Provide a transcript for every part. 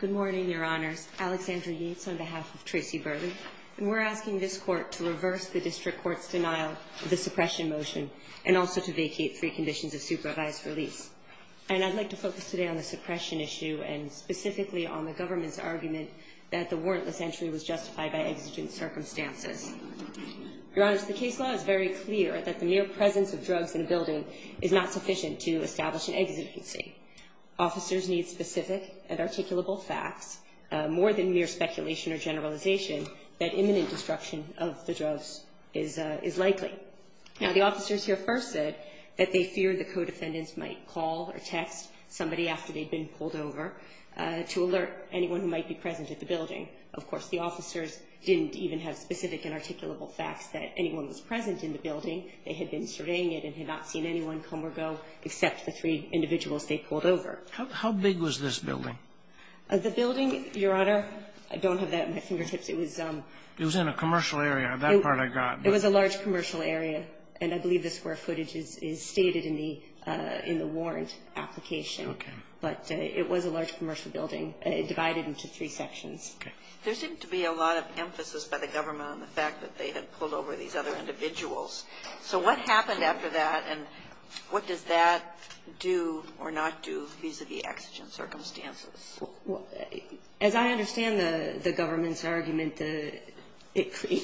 Good morning, your honors. Alexandra Yates on behalf of Tracy Burleigh. And we're asking this court to reverse the district court's denial of the suppression motion and also to vacate three conditions of supervised release. And I'd like to focus today on the suppression issue and specifically on the government's argument that the warrantless entry was justified by exigent circumstances. Your honors, the case law is very clear that the mere presence of drugs in a building is not sufficient to establish an exigency. Officers need specific and articulable facts more than mere speculation or generalization that imminent destruction of the drugs is likely. Now, the officers here first said that they feared the co-defendants might call or text somebody after they'd been pulled over to alert anyone who might be present at the building. Of course, the officers didn't even have specific and articulable facts that anyone was present in the building. They had been surveying it and had not seen anyone come or go except the three individuals they pulled over. How big was this building? The building, your honor, I don't have that at my fingertips. It was in a commercial area. That part I got. It was a large commercial area. And I believe the square footage is stated in the warrant application. Okay. But it was a large commercial building divided into three sections. Okay. There seemed to be a lot of emphasis by the government on the fact that they had pulled over these other individuals. So what happened after that, and what does that do or not do vis-à-vis exigent circumstances? Well, as I understand the government's argument, it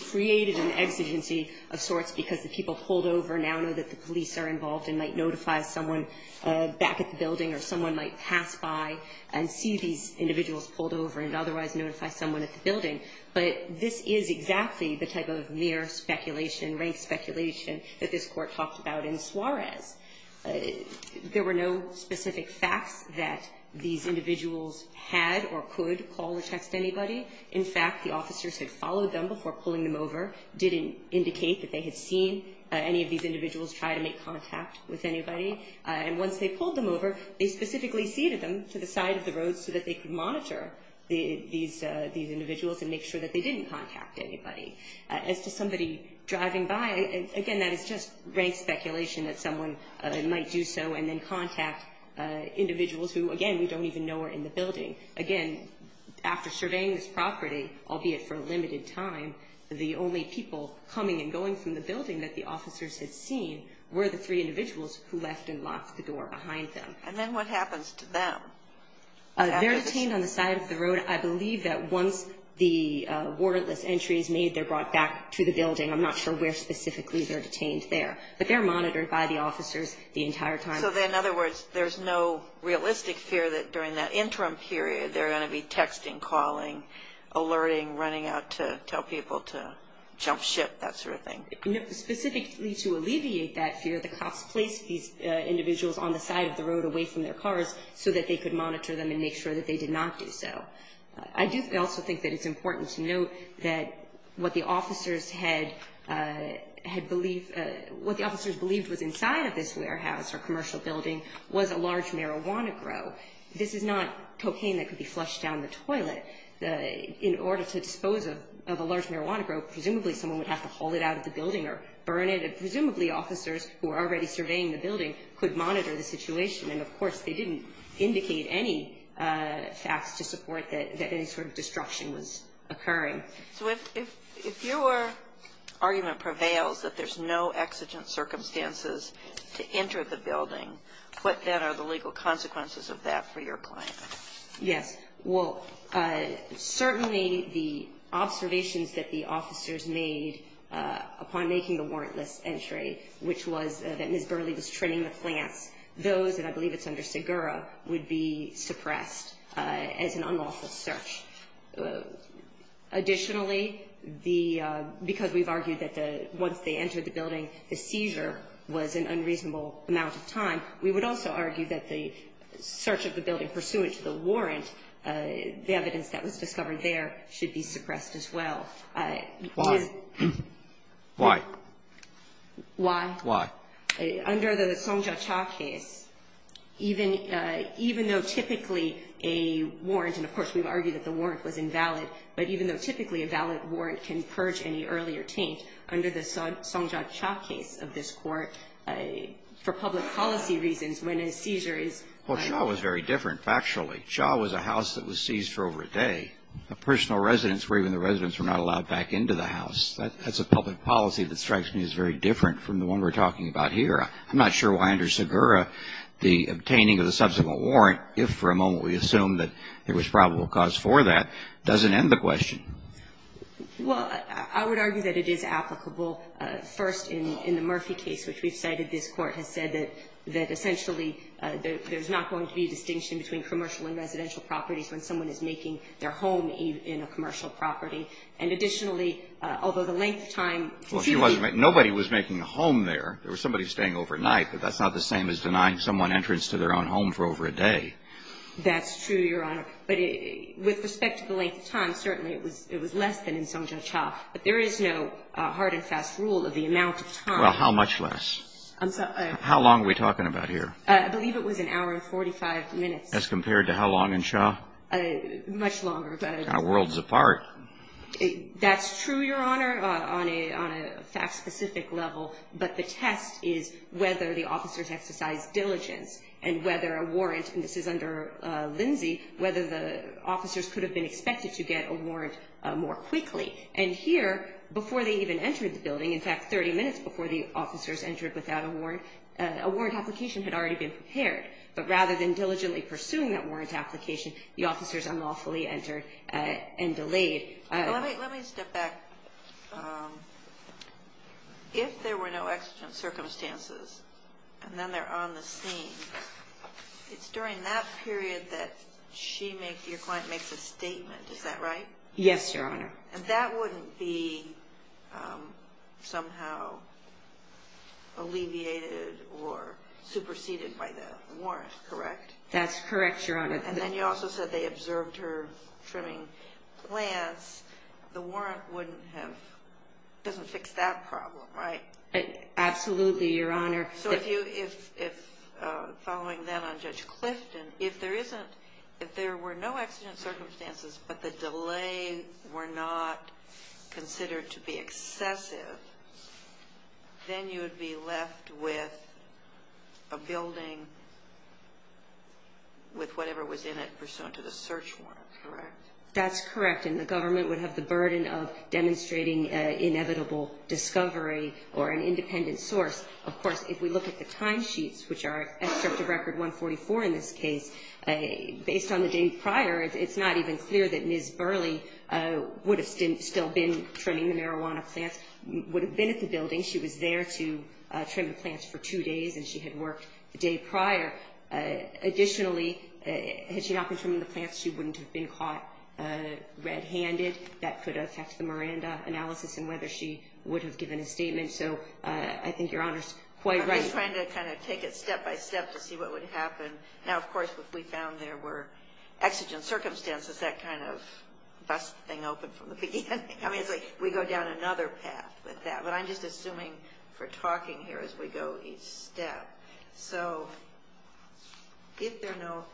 created an exigency of sorts because the people pulled over now know that the police are involved and might notify someone back at the building or someone might pass by and see these individuals pulled over and otherwise notify someone at the building. But this is exactly the type of mere speculation, rank speculation, that this Court talked about in Suarez. There were no specific facts that these individuals had or could call or text anybody. In fact, the officers had followed them before pulling them over, didn't indicate that they had seen any of these individuals try to make contact. And once they pulled them over, they specifically seated them to the side of the road so that they could monitor these individuals and make sure that they didn't contact anybody. As to somebody driving by, again, that is just rank speculation that someone might do so and then contact individuals who, again, we don't even know are in the building. Again, after surveying this property, albeit for a limited time, the only people coming and going from the building that the officers had seen were the three individuals who left and locked the door behind them. And then what happens to them? They're detained on the side of the road. I believe that once the warrantless entry is made, they're brought back to the building. I'm not sure where specifically they're detained there. But they're monitored by the officers the entire time. So, in other words, there's no realistic fear that during that interim period they're going to be texting, calling, alerting, running out to tell people to jump ship, that sort of thing? No. Specifically to alleviate that fear, the cops placed these individuals on the side of the road away from their cars so that they could monitor them and make sure that they did not do so. I do also think that it's important to note that what the officers had believed, what the officers believed was inside of this warehouse or commercial building was a large marijuana grow. This is not cocaine that could be flushed down the toilet. In order to dispose of a large marijuana grow, presumably someone would have to haul it out of the building or burn it. And presumably officers who were already surveying the building could monitor the situation. And, of course, they didn't indicate any facts to support that any sort of destruction was occurring. So if your argument prevails that there's no exigent circumstances to enter the building, what then are the legal consequences of that for your client? Yes. Well, certainly the observations that the officers made upon making the warrantless entry, which was that Ms. Burley was trimming the plants, those, and I believe it's under Segura, would be suppressed as an unlawful search. Additionally, because we've argued that once they entered the building, the seizure was an unreasonable amount of time, we would also argue that the search of the building pursuant to the warrant, the evidence that was discovered there, should be suppressed as well. Why? Why? Why? Why? Under the Song Jia Cha case, even though typically a warrant, and, of course, we've argued that the warrant was invalid, but even though typically a valid warrant can purge any earlier taint, under the Song Jia Cha case of this Court, for public policy reasons, when a seizure is Well, Cha was very different, factually. Cha was a house that was seized for over a day. A personal residence where even the residents were not allowed back into the house. That's a public policy that strikes me as very different from the one we're talking about here. I'm not sure why under Segura, the obtaining of the subsequent warrant, if for a moment we assume that there was probable cause for that, doesn't end the question. Well, I would argue that it is applicable. First, in the Murphy case, which we've cited, this Court has said that essentially there's not going to be a distinction between commercial and residential properties when someone is making their home in a commercial property. And additionally, although the length of time to see the Nobody was making a home there. There was somebody staying overnight, but that's not the same as denying someone entrance to their own home for over a day. That's true, Your Honor. But with respect to the length of time, certainly it was less than in Song Jia Cha. But there is no hard and fast rule of the amount of time. Well, how much less? How long are we talking about here? I believe it was an hour and 45 minutes. As compared to how long in Cha? Much longer. Worlds apart. That's true, Your Honor, on a fact-specific level. But the test is whether the officers exercised diligence and whether a warrant and this is under Lindsay, whether the officers could have been expected to get a warrant more quickly. And here, before they even entered the building, in fact, 30 minutes before the officers entered without a warrant, a warrant application had already been prepared. But rather than diligently pursuing that warrant application, the officers unlawfully entered and delayed. Let me step back. If there were no accident circumstances and then they're on the scene, it's during that period that your client makes a statement, is that right? Yes, Your Honor. And that wouldn't be somehow alleviated or superseded by the warrant, correct? That's correct, Your Honor. And then you also said they observed her trimming plants. The warrant doesn't fix that problem, right? Absolutely, Your Honor. So following that on Judge Clifton, if there were no accident circumstances but the delay were not considered to be excessive, then you would be left with a building with whatever was in it pursuant to the search warrant, correct? That's correct. And the government would have the burden of demonstrating inevitable discovery or an independent source. Of course, if we look at the timesheets, which are excerpt of Record 144 in this case, based on the date prior, it's not even clear that Ms. Burley would have still been trimming the marijuana plants. She would have been at the building. She was there to trim the plants for two days, and she had worked the day prior. Additionally, had she not been trimming the plants, she wouldn't have been caught red-handed. That could affect the Miranda analysis and whether she would have given a statement. So I think Your Honor's quite right. I'm just trying to kind of take it step by step to see what would happen. Now, of course, if we found there were exigent circumstances, that kind of busts the thing open from the beginning. I mean, it's like we go down another path with that. But I'm just assuming for talking here as we go each step. So if there are no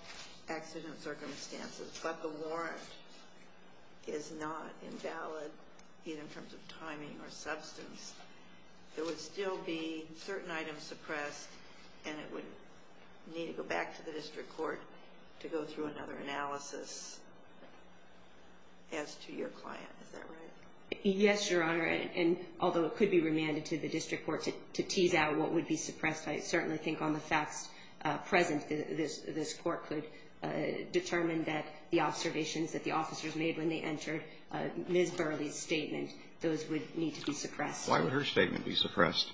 exigent circumstances but the warrant is not invalid, either in terms of timing or substance, there would still be certain items suppressed, and it would need to go back to the district court to go through another analysis as to your client. Is that right? Yes, Your Honor. And although it could be remanded to the district court to tease out what would be suppressed, I certainly think on the facts present this court could determine that the observations that the officers made when they entered Ms. Burley's statement, those would need to be suppressed. Why would her statement be suppressed?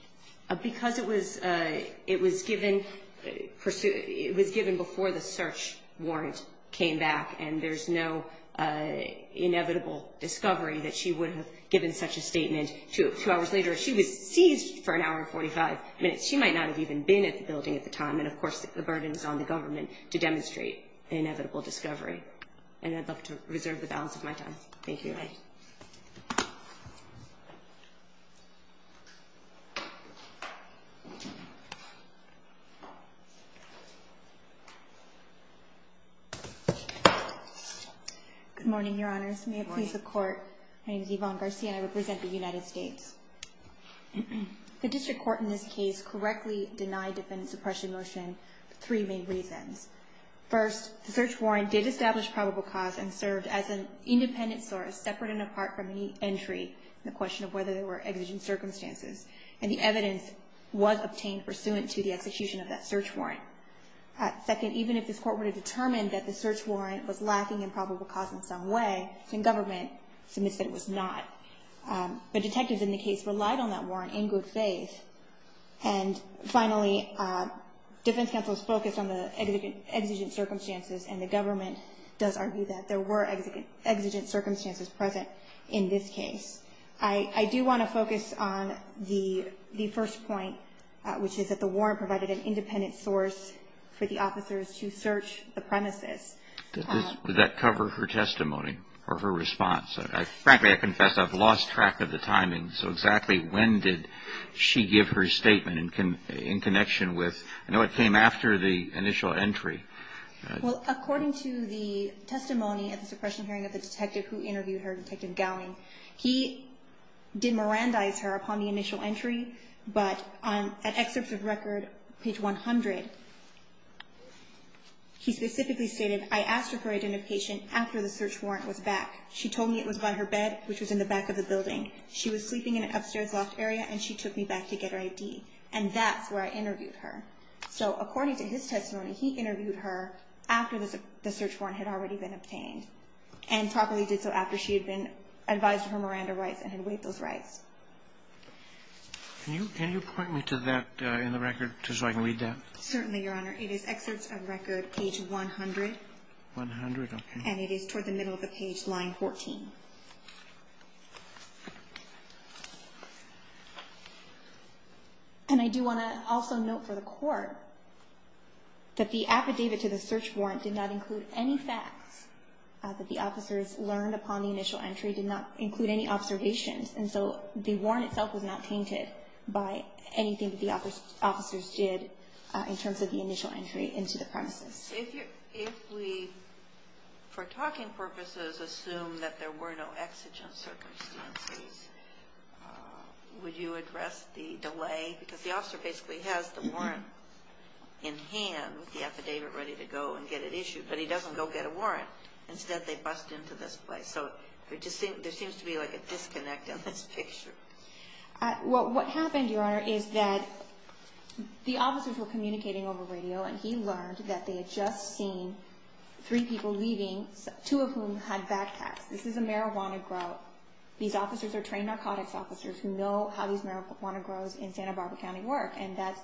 Because it was given before the search warrant came back, and there's no inevitable discovery that she would have given such a statement two hours later. She was seized for an hour and 45 minutes. She might not have even been at the building at the time, and, of course, the burden is on the government to demonstrate an inevitable discovery. And I'd love to reserve the balance of my time. Thank you. Thank you. Good morning, Your Honors. Good morning. May it please the Court, my name is Yvonne Garcia, and I represent the United States. The district court in this case correctly denied defendant suppression motion for three main reasons. First, the search warrant did establish probable cause and served as an independent source separate and apart from any entry in the question of whether there were exigent circumstances, and the evidence was obtained pursuant to the execution of that search warrant. Second, even if this court were to determine that the search warrant was lacking in probable cause in some way, then government submits that it was not. But detectives in the case relied on that warrant in good faith. And finally, defense counsel's focus on the exigent circumstances and the government does argue that there were exigent circumstances present in this case. I do want to focus on the first point, which is that the warrant provided an independent source for the officers to search the premises. Does that cover her testimony or her response? Frankly, I confess I've lost track of the timing. So exactly when did she give her statement in connection with? I know it came after the initial entry. Well, according to the testimony at the suppression hearing of the detective who interviewed her, Detective Gowney, he did mirandize her upon the initial entry, but at excerpts of record, page 100, he specifically stated, I asked for her identification after the search warrant was back. She told me it was by her bed, which was in the back of the building. She was sleeping in an upstairs loft area and she took me back to get her ID. And that's where I interviewed her. So according to his testimony, he interviewed her after the search warrant had already been obtained and probably did so after she had been advised of her Miranda rights and had waived those rights. Can you point me to that in the record just so I can read that? Certainly, Your Honor. It is excerpts of record, page 100. 100, okay. And it is toward the middle of the page, line 14. And I do want to also note for the Court that the affidavit to the search warrant did not include any facts that the officers learned upon the initial entry, did not include any observations. And so the warrant itself was not tainted by anything that the officers did in terms of the initial entry into the premises. If we, for talking purposes, assume that there were no exigent circumstances, would you address the delay? Because the officer basically has the warrant in hand with the affidavit ready to go and get it issued. But he doesn't go get a warrant. Instead, they bust into this place. So there seems to be like a disconnect in this picture. Well, what happened, Your Honor, is that the officers were communicating over radio, and he learned that they had just seen three people leaving, two of whom had backpacks. This is a marijuana grow. These officers are trained narcotics officers who know how these marijuana grows in Santa Barbara County work, and that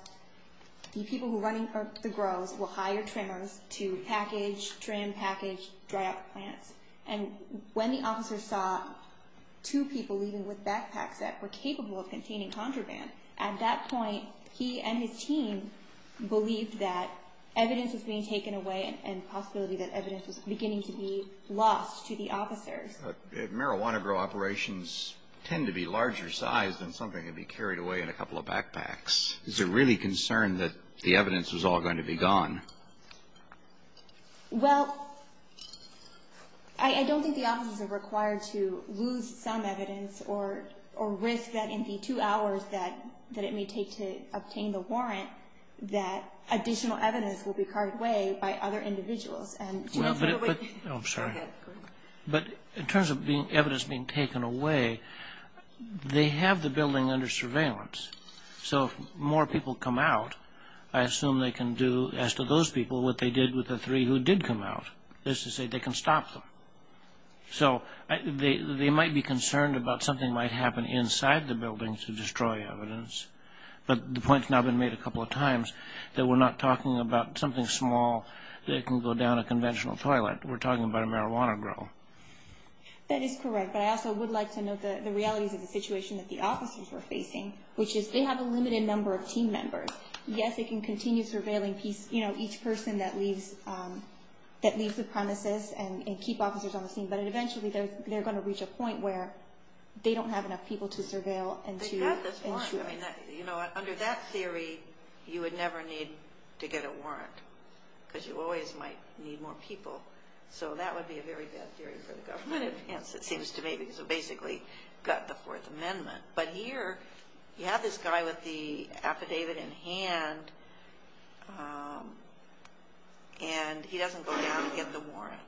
the people who are running the grows will hire trimmers to package, trim, package, dry out the plants. And when the officers saw two people leaving with backpacks that were capable of containing contraband, at that point, he and his team believed that evidence was being taken away and the possibility that evidence was beginning to be lost to the officers. Marijuana grow operations tend to be larger size than something that can be carried away in a couple of backpacks. Is there really concern that the evidence was all going to be gone? Well, I don't think the officers are required to lose some evidence or risk that in the two hours that it may take to obtain the warrant, that additional evidence will be carved away by other individuals. I'm sorry. Go ahead. But in terms of evidence being taken away, they have the building under surveillance. So if more people come out, I assume they can do, as to those people, what they did with the three who did come out, is to say they can stop them. So they might be concerned about something might happen inside the building to destroy evidence. But the point has now been made a couple of times that we're not talking about something small that can go down a conventional toilet. We're talking about a marijuana grow. That is correct. But I also would like to note the realities of the situation that the officers are facing, which is they have a limited number of team members. Yes, they can continue surveilling each person that leaves the premises and keep officers on the scene, but eventually they're going to reach a point where they don't have enough people to surveil. But you have this warrant. You know what? Under that theory, you would never need to get a warrant because you always might need more people. So that would be a very bad theory for the government. Yes, it seems to me, because we've basically got the Fourth Amendment. But here, you have this guy with the affidavit in hand, and he doesn't go down and get the warrant.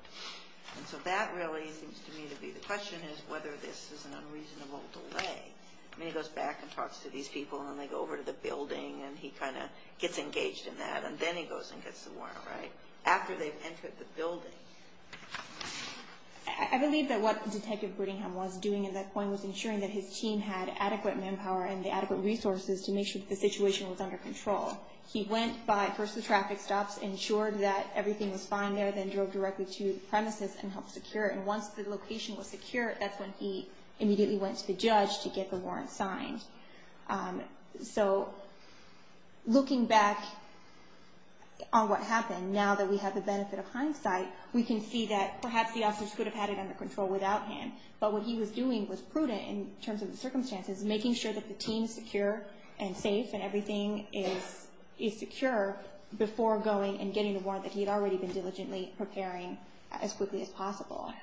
And so that really seems to me to be the question, is whether this is an unreasonable delay. I mean, he goes back and talks to these people, and then they go over to the building, and he kind of gets engaged in that, and then he goes and gets the warrant, right? After they've entered the building. I believe that what Detective Brittingham was doing at that point was ensuring that his team had adequate manpower and the adequate resources to make sure that the situation was under control. He went by first the traffic stops, ensured that everything was fine there, then drove directly to the premises and helped secure it. And once the location was secure, that's when he immediately went to the judge to get the warrant signed. So looking back on what happened, now that we have the benefit of hindsight, we can see that perhaps the officers could have had it under control without him. But what he was doing was prudent in terms of the circumstances, making sure that the team is secure and safe and everything is secure, before going and getting the warrant that he had already been diligently preparing as quickly as possible.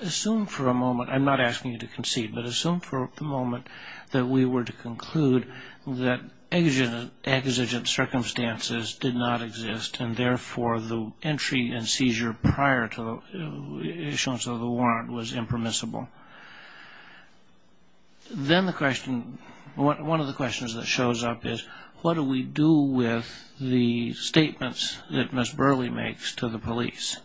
Assume for a moment, I'm not asking you to concede, but assume for a moment that we were to conclude that exigent circumstances did not exist and therefore the entry and seizure prior to the issuance of the warrant was impermissible. Then the question, one of the questions that shows up is, what do we do with the statements that Ms. Burley makes to the police?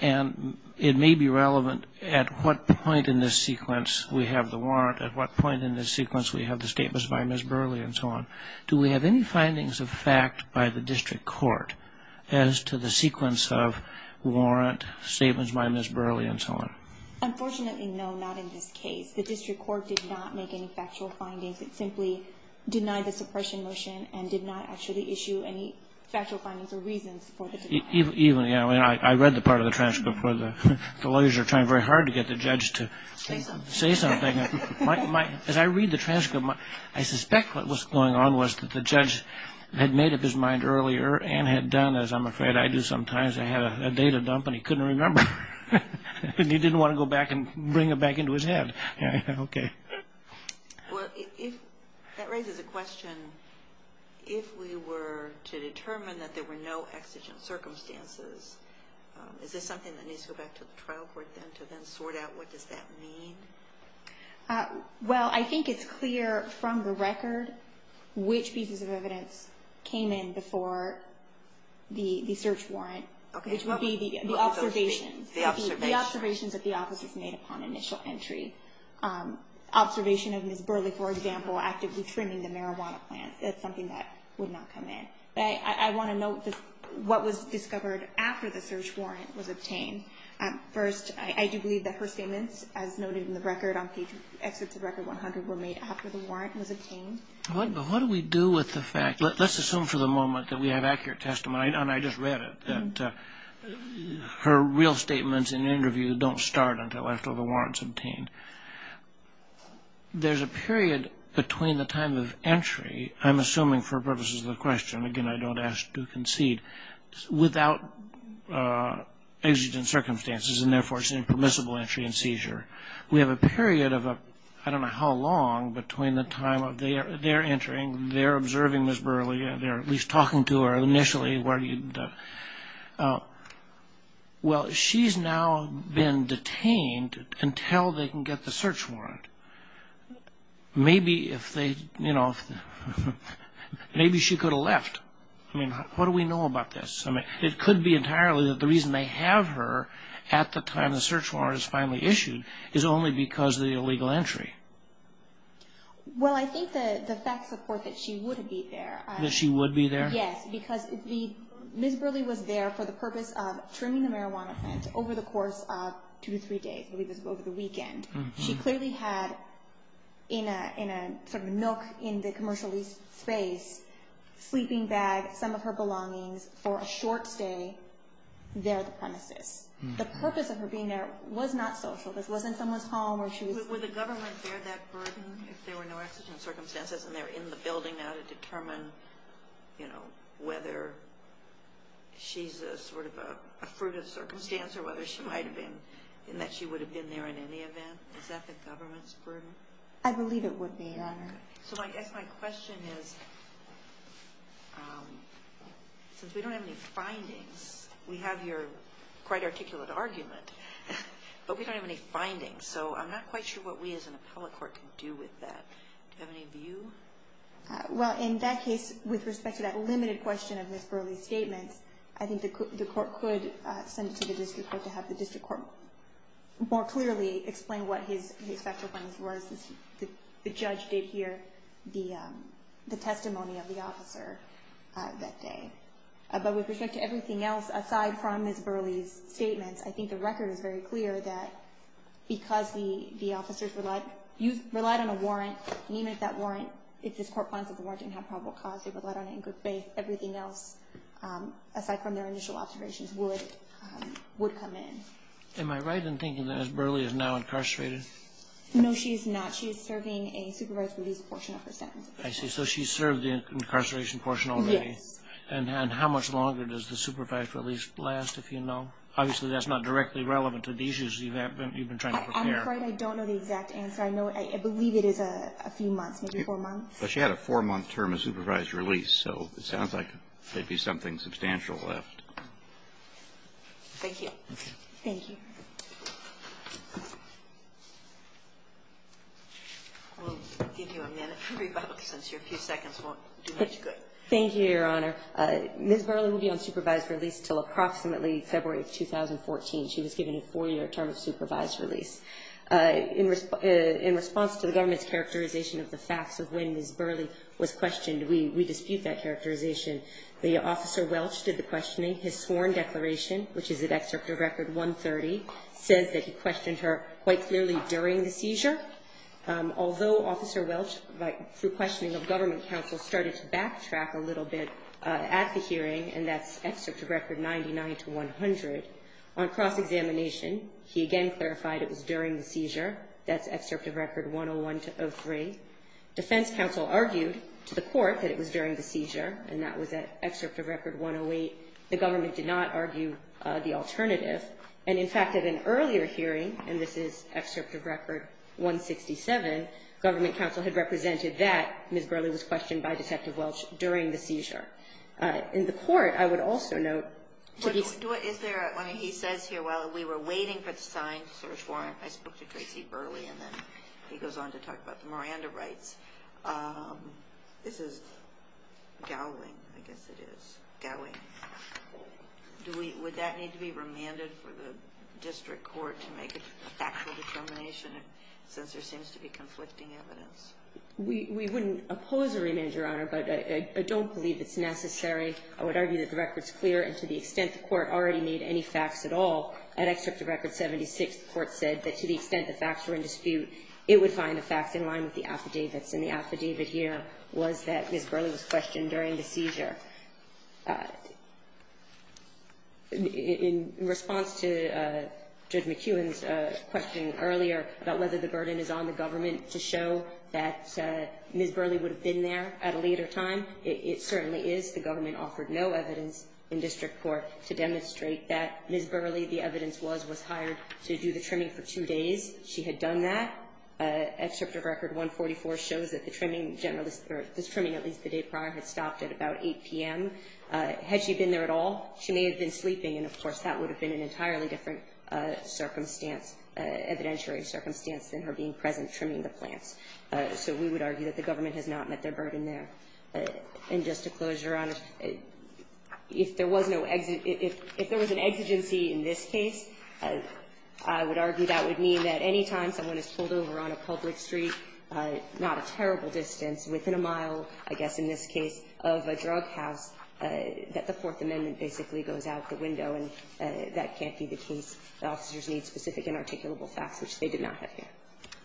And it may be relevant at what point in this sequence we have the warrant, at what point in this sequence we have the statements by Ms. Burley and so on. Do we have any findings of fact by the district court as to the sequence of warrant, statements by Ms. Burley and so on? Unfortunately, no, not in this case. The district court did not make any factual findings. It simply denied the suppression motion and did not actually issue any factual findings or reasons for the denial. I read the part of the transcript where the lawyers are trying very hard to get the judge to say something. As I read the transcript, I suspect what was going on was that the judge had made up his mind earlier and had done, as I'm afraid I do sometimes, I had a data dump and he couldn't remember. He didn't want to go back and bring it back into his head. Well, that raises a question. If we were to determine that there were no exigent circumstances, is this something that needs to go back to the trial court then to then sort out what does that mean? Well, I think it's clear from the record which pieces of evidence came in before the search warrant, which would be the observations that the officers made upon initial entry. Observation of Ms. Burley, for example, actively trimming the marijuana plant, that's something that would not come in. I want to note what was discovered after the search warrant was obtained. First, I do believe that her statements, as noted in the record on page, Exit to Record 100, were made after the warrant was obtained. But what do we do with the fact, let's assume for the moment that we have accurate testimony, and I just read it, that her real statements in an interview don't start until after the warrant's obtained. There's a period between the time of entry, I'm assuming for purposes of the question, again, I don't ask to concede, without exigent circumstances and therefore it's an impermissible entry and seizure. We have a period of, I don't know how long, between the time of their entering, they're observing Ms. Burley, they're at least talking to her initially. Well, she's now been detained until they can get the search warrant. Maybe if they, you know, maybe she could have left. I mean, what do we know about this? It could be entirely that the reason they have her at the time the search warrant is finally issued is only because of the illegal entry. Well, I think the facts support that she would be there. That she would be there? Yes, because Ms. Burley was there for the purpose of trimming the marijuana fence over the course of two to three days, over the weekend. She clearly had in a sort of nook in the commercial space, sleeping bag, some of her belongings for a short stay there at the premises. The purpose of her being there was not social. This wasn't someone's home or she was... Would the government bear that burden if there were no accident circumstances and they're in the building now to determine, you know, whether she's a sort of a fruit of circumstance or whether she might have been in that she would have been there in any event? Is that the government's burden? I believe it would be, Your Honor. So I guess my question is, since we don't have any findings, we have your quite articulate argument, but we don't have any findings. So I'm not quite sure what we as an appellate court can do with that. Do you have any view? Well, in that case, with respect to that limited question of Ms. Burley's statements, I think the court could send it to the district court to have the district court more clearly explain what his factual findings were since the judge did hear the testimony of the officer that day. I think the record is very clear that because the officers relied on a warrant, even if that warrant, if this court finds that the warrant didn't have probable cause, they relied on it in good faith, everything else, aside from their initial observations, would come in. Am I right in thinking that Burley is now incarcerated? No, she is not. She is serving a supervised release portion of her sentence. I see. So she served the incarceration portion already. Yes. And how much longer does the supervised release last, if you know? Obviously, that's not directly relevant to the issues you've been trying to prepare. I'm afraid I don't know the exact answer. I believe it is a few months, maybe four months. But she had a four-month term of supervised release, so it sounds like there'd be something substantial left. Thank you. Okay. Thank you. We'll give you a minute to rebut since your few seconds won't do much good. Thank you, Your Honor. Ms. Burley will be on supervised release until approximately February of 2014. She was given a four-year term of supervised release. In response to the government's characterization of the facts of when Ms. Burley was questioned, we dispute that characterization. The officer Welch did the questioning. His sworn declaration, which is at Excerpt of Record 130, says that he questioned her quite clearly during the seizure. Although Officer Welch, through questioning of government counsel, started to backtrack a little bit at the hearing, and that's Excerpt of Record 99-100, on cross-examination, he again clarified it was during the seizure. That's Excerpt of Record 101-03. Defense counsel argued to the court that it was during the seizure, and that was at Excerpt of Record 108. The government did not argue the alternative. And, in fact, at an earlier hearing, and this is Excerpt of Record 167, government counsel had represented that Ms. Burley was questioned by Detective Welch during the seizure. In the court, I would also note to this point. Is there a – I mean, he says here, while we were waiting for the signed search warrant, I spoke to Tracy Burley, and then he goes on to talk about the Miranda rights. This is Gowing, I guess it is. Gowing. Do we – would that need to be remanded for the district court to make a factual determination, since there seems to be conflicting evidence? We wouldn't oppose a remand, Your Honor, but I don't believe it's necessary. I would argue that the record's clear, and to the extent the court already made any facts at all, at Excerpt of Record 76, the court said that to the extent the facts were in dispute, it would find the facts in line with the affidavits. And the affidavit here was that Ms. Burley was questioned during the seizure. In response to Judge McEwen's question earlier about whether the burden is on the government to show that Ms. Burley would have been there at a later time, it certainly is. The government offered no evidence in district court to demonstrate that Ms. Burley, the evidence was, was hired to do the trimming for two days. She had done that. Excerpt of Record 144 shows that the trimming generalist – or this trimming, at least the day prior – had stopped at about 8 p.m. Had she been there at all, she may have been sleeping, and of course, that would have been an entirely different circumstance, evidentiary circumstance, than her being present trimming the plants. So we would argue that the government has not met their burden there. And just to close, Your Honor, if there was no – if there was an exigency in this case, I would argue that would mean that any time someone is pulled over on a public street, not a terrible distance, within a mile, I guess in this case, of a drug house, that the Fourth Amendment basically goes out the window, and that can't be the case. The officers need specific and articulable facts, which they did not have here.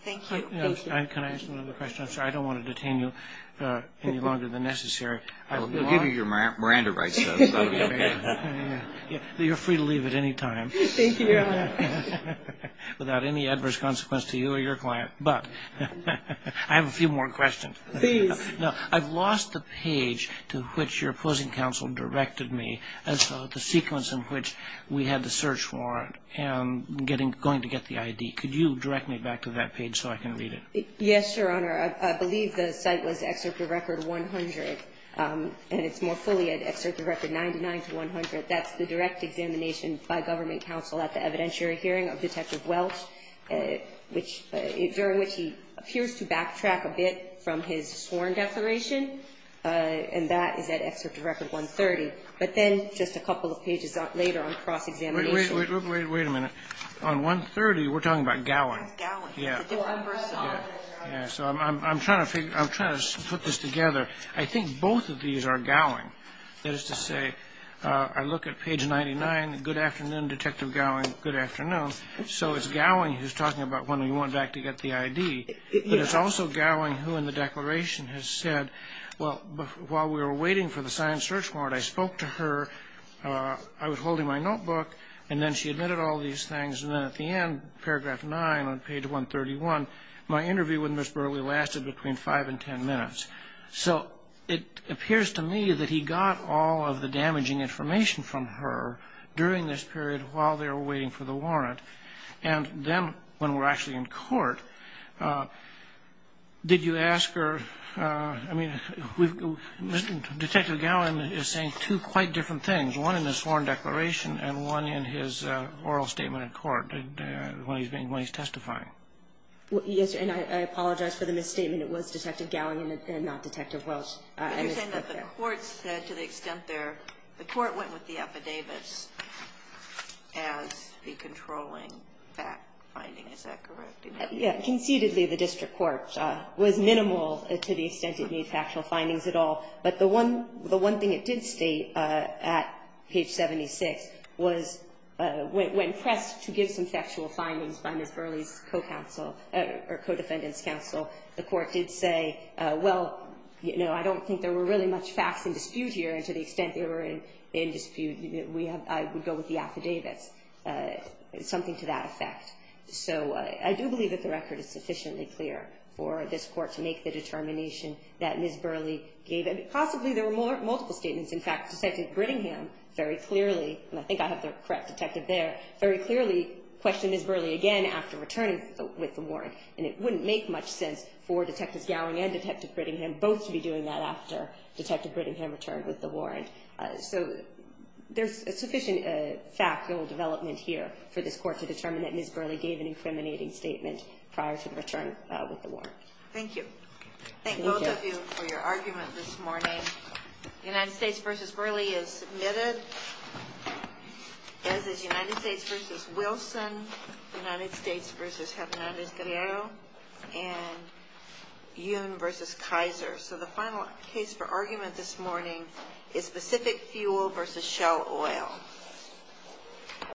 Thank you. Thank you. Can I ask another question? I'm sorry. I don't want to detain you any longer than necessary. We'll give you your Miranda rights, though. You're free to leave at any time. Thank you, Your Honor. Without any adverse consequence to you or your client. But I have a few more questions. Please. I've lost the page to which your opposing counsel directed me as to the sequence in which we had the search warrant and going to get the I.D. Could you direct me back to that page so I can read it? Yes, Your Honor. I believe the site was Excerpt of Record 100, and it's more fully Excerpt of Record 99 to 100. That's the direct examination by government counsel at the evidentiary hearing of Detective Welsh, which he appears to backtrack a bit from his sworn declaration, and that is at Excerpt of Record 130. But then just a couple of pages later on cross-examination. Wait a minute. On 130, we're talking about Gowan. Gowan. Yeah. So I'm trying to put this together. I think both of these are Gowan. That is to say, I look at page 99, good afternoon, Detective Gowan, good afternoon. So it's Gowan who's talking about when we went back to get the I.D., but it's also Gowan who in the declaration has said, well, while we were waiting for the signed search warrant, I spoke to her. I was holding my notebook, and then she admitted all these things. And then at the end, paragraph 9 on page 131, my interview with Ms. Burleigh lasted between 5 and 10 minutes. So it appears to me that he got all of the damaging information from her during this period while they were waiting for the warrant. And then when we're actually in court, did you ask her, I mean, Detective Gowan is saying two quite different things, one in his sworn declaration and one in his oral statement in court when he's testifying. Yes, and I apologize for the misstatement. And it was Detective Gowan and not Detective Welch. But you're saying that the court said to the extent there, the court went with the affidavits as the controlling fact finding. Is that correct? Yeah. Concededly, the district court was minimal to the extent it made factual findings at all. But the one thing it did state at page 76 was when pressed to give some factual findings by Ms. Burleigh's co-counsel or co-defendant's counsel, the court did say, well, you know, I don't think there were really much facts in dispute here. And to the extent they were in dispute, I would go with the affidavits, something to that effect. So I do believe that the record is sufficiently clear for this court to make the determination that Ms. Burleigh gave. Possibly there were multiple statements. In fact, Detective Brittingham very clearly, and I think I have the correct detective there, very clearly questioned Ms. Burleigh again after returning with the warrant. And it wouldn't make much sense for Detectives Gowing and Detective Brittingham both to be doing that after Detective Brittingham returned with the warrant. So there's a sufficient factual development here for this court to determine that Ms. Burleigh gave an incriminating statement prior to the return with the warrant. Thank you. Thank both of you for your argument this morning. The United States v. Burleigh is submitted. As is United States v. Wilson, United States v. Hernandez-Guerrero, and Yun v. Kaiser. So the final case for argument this morning is specific fuel v. shell oil.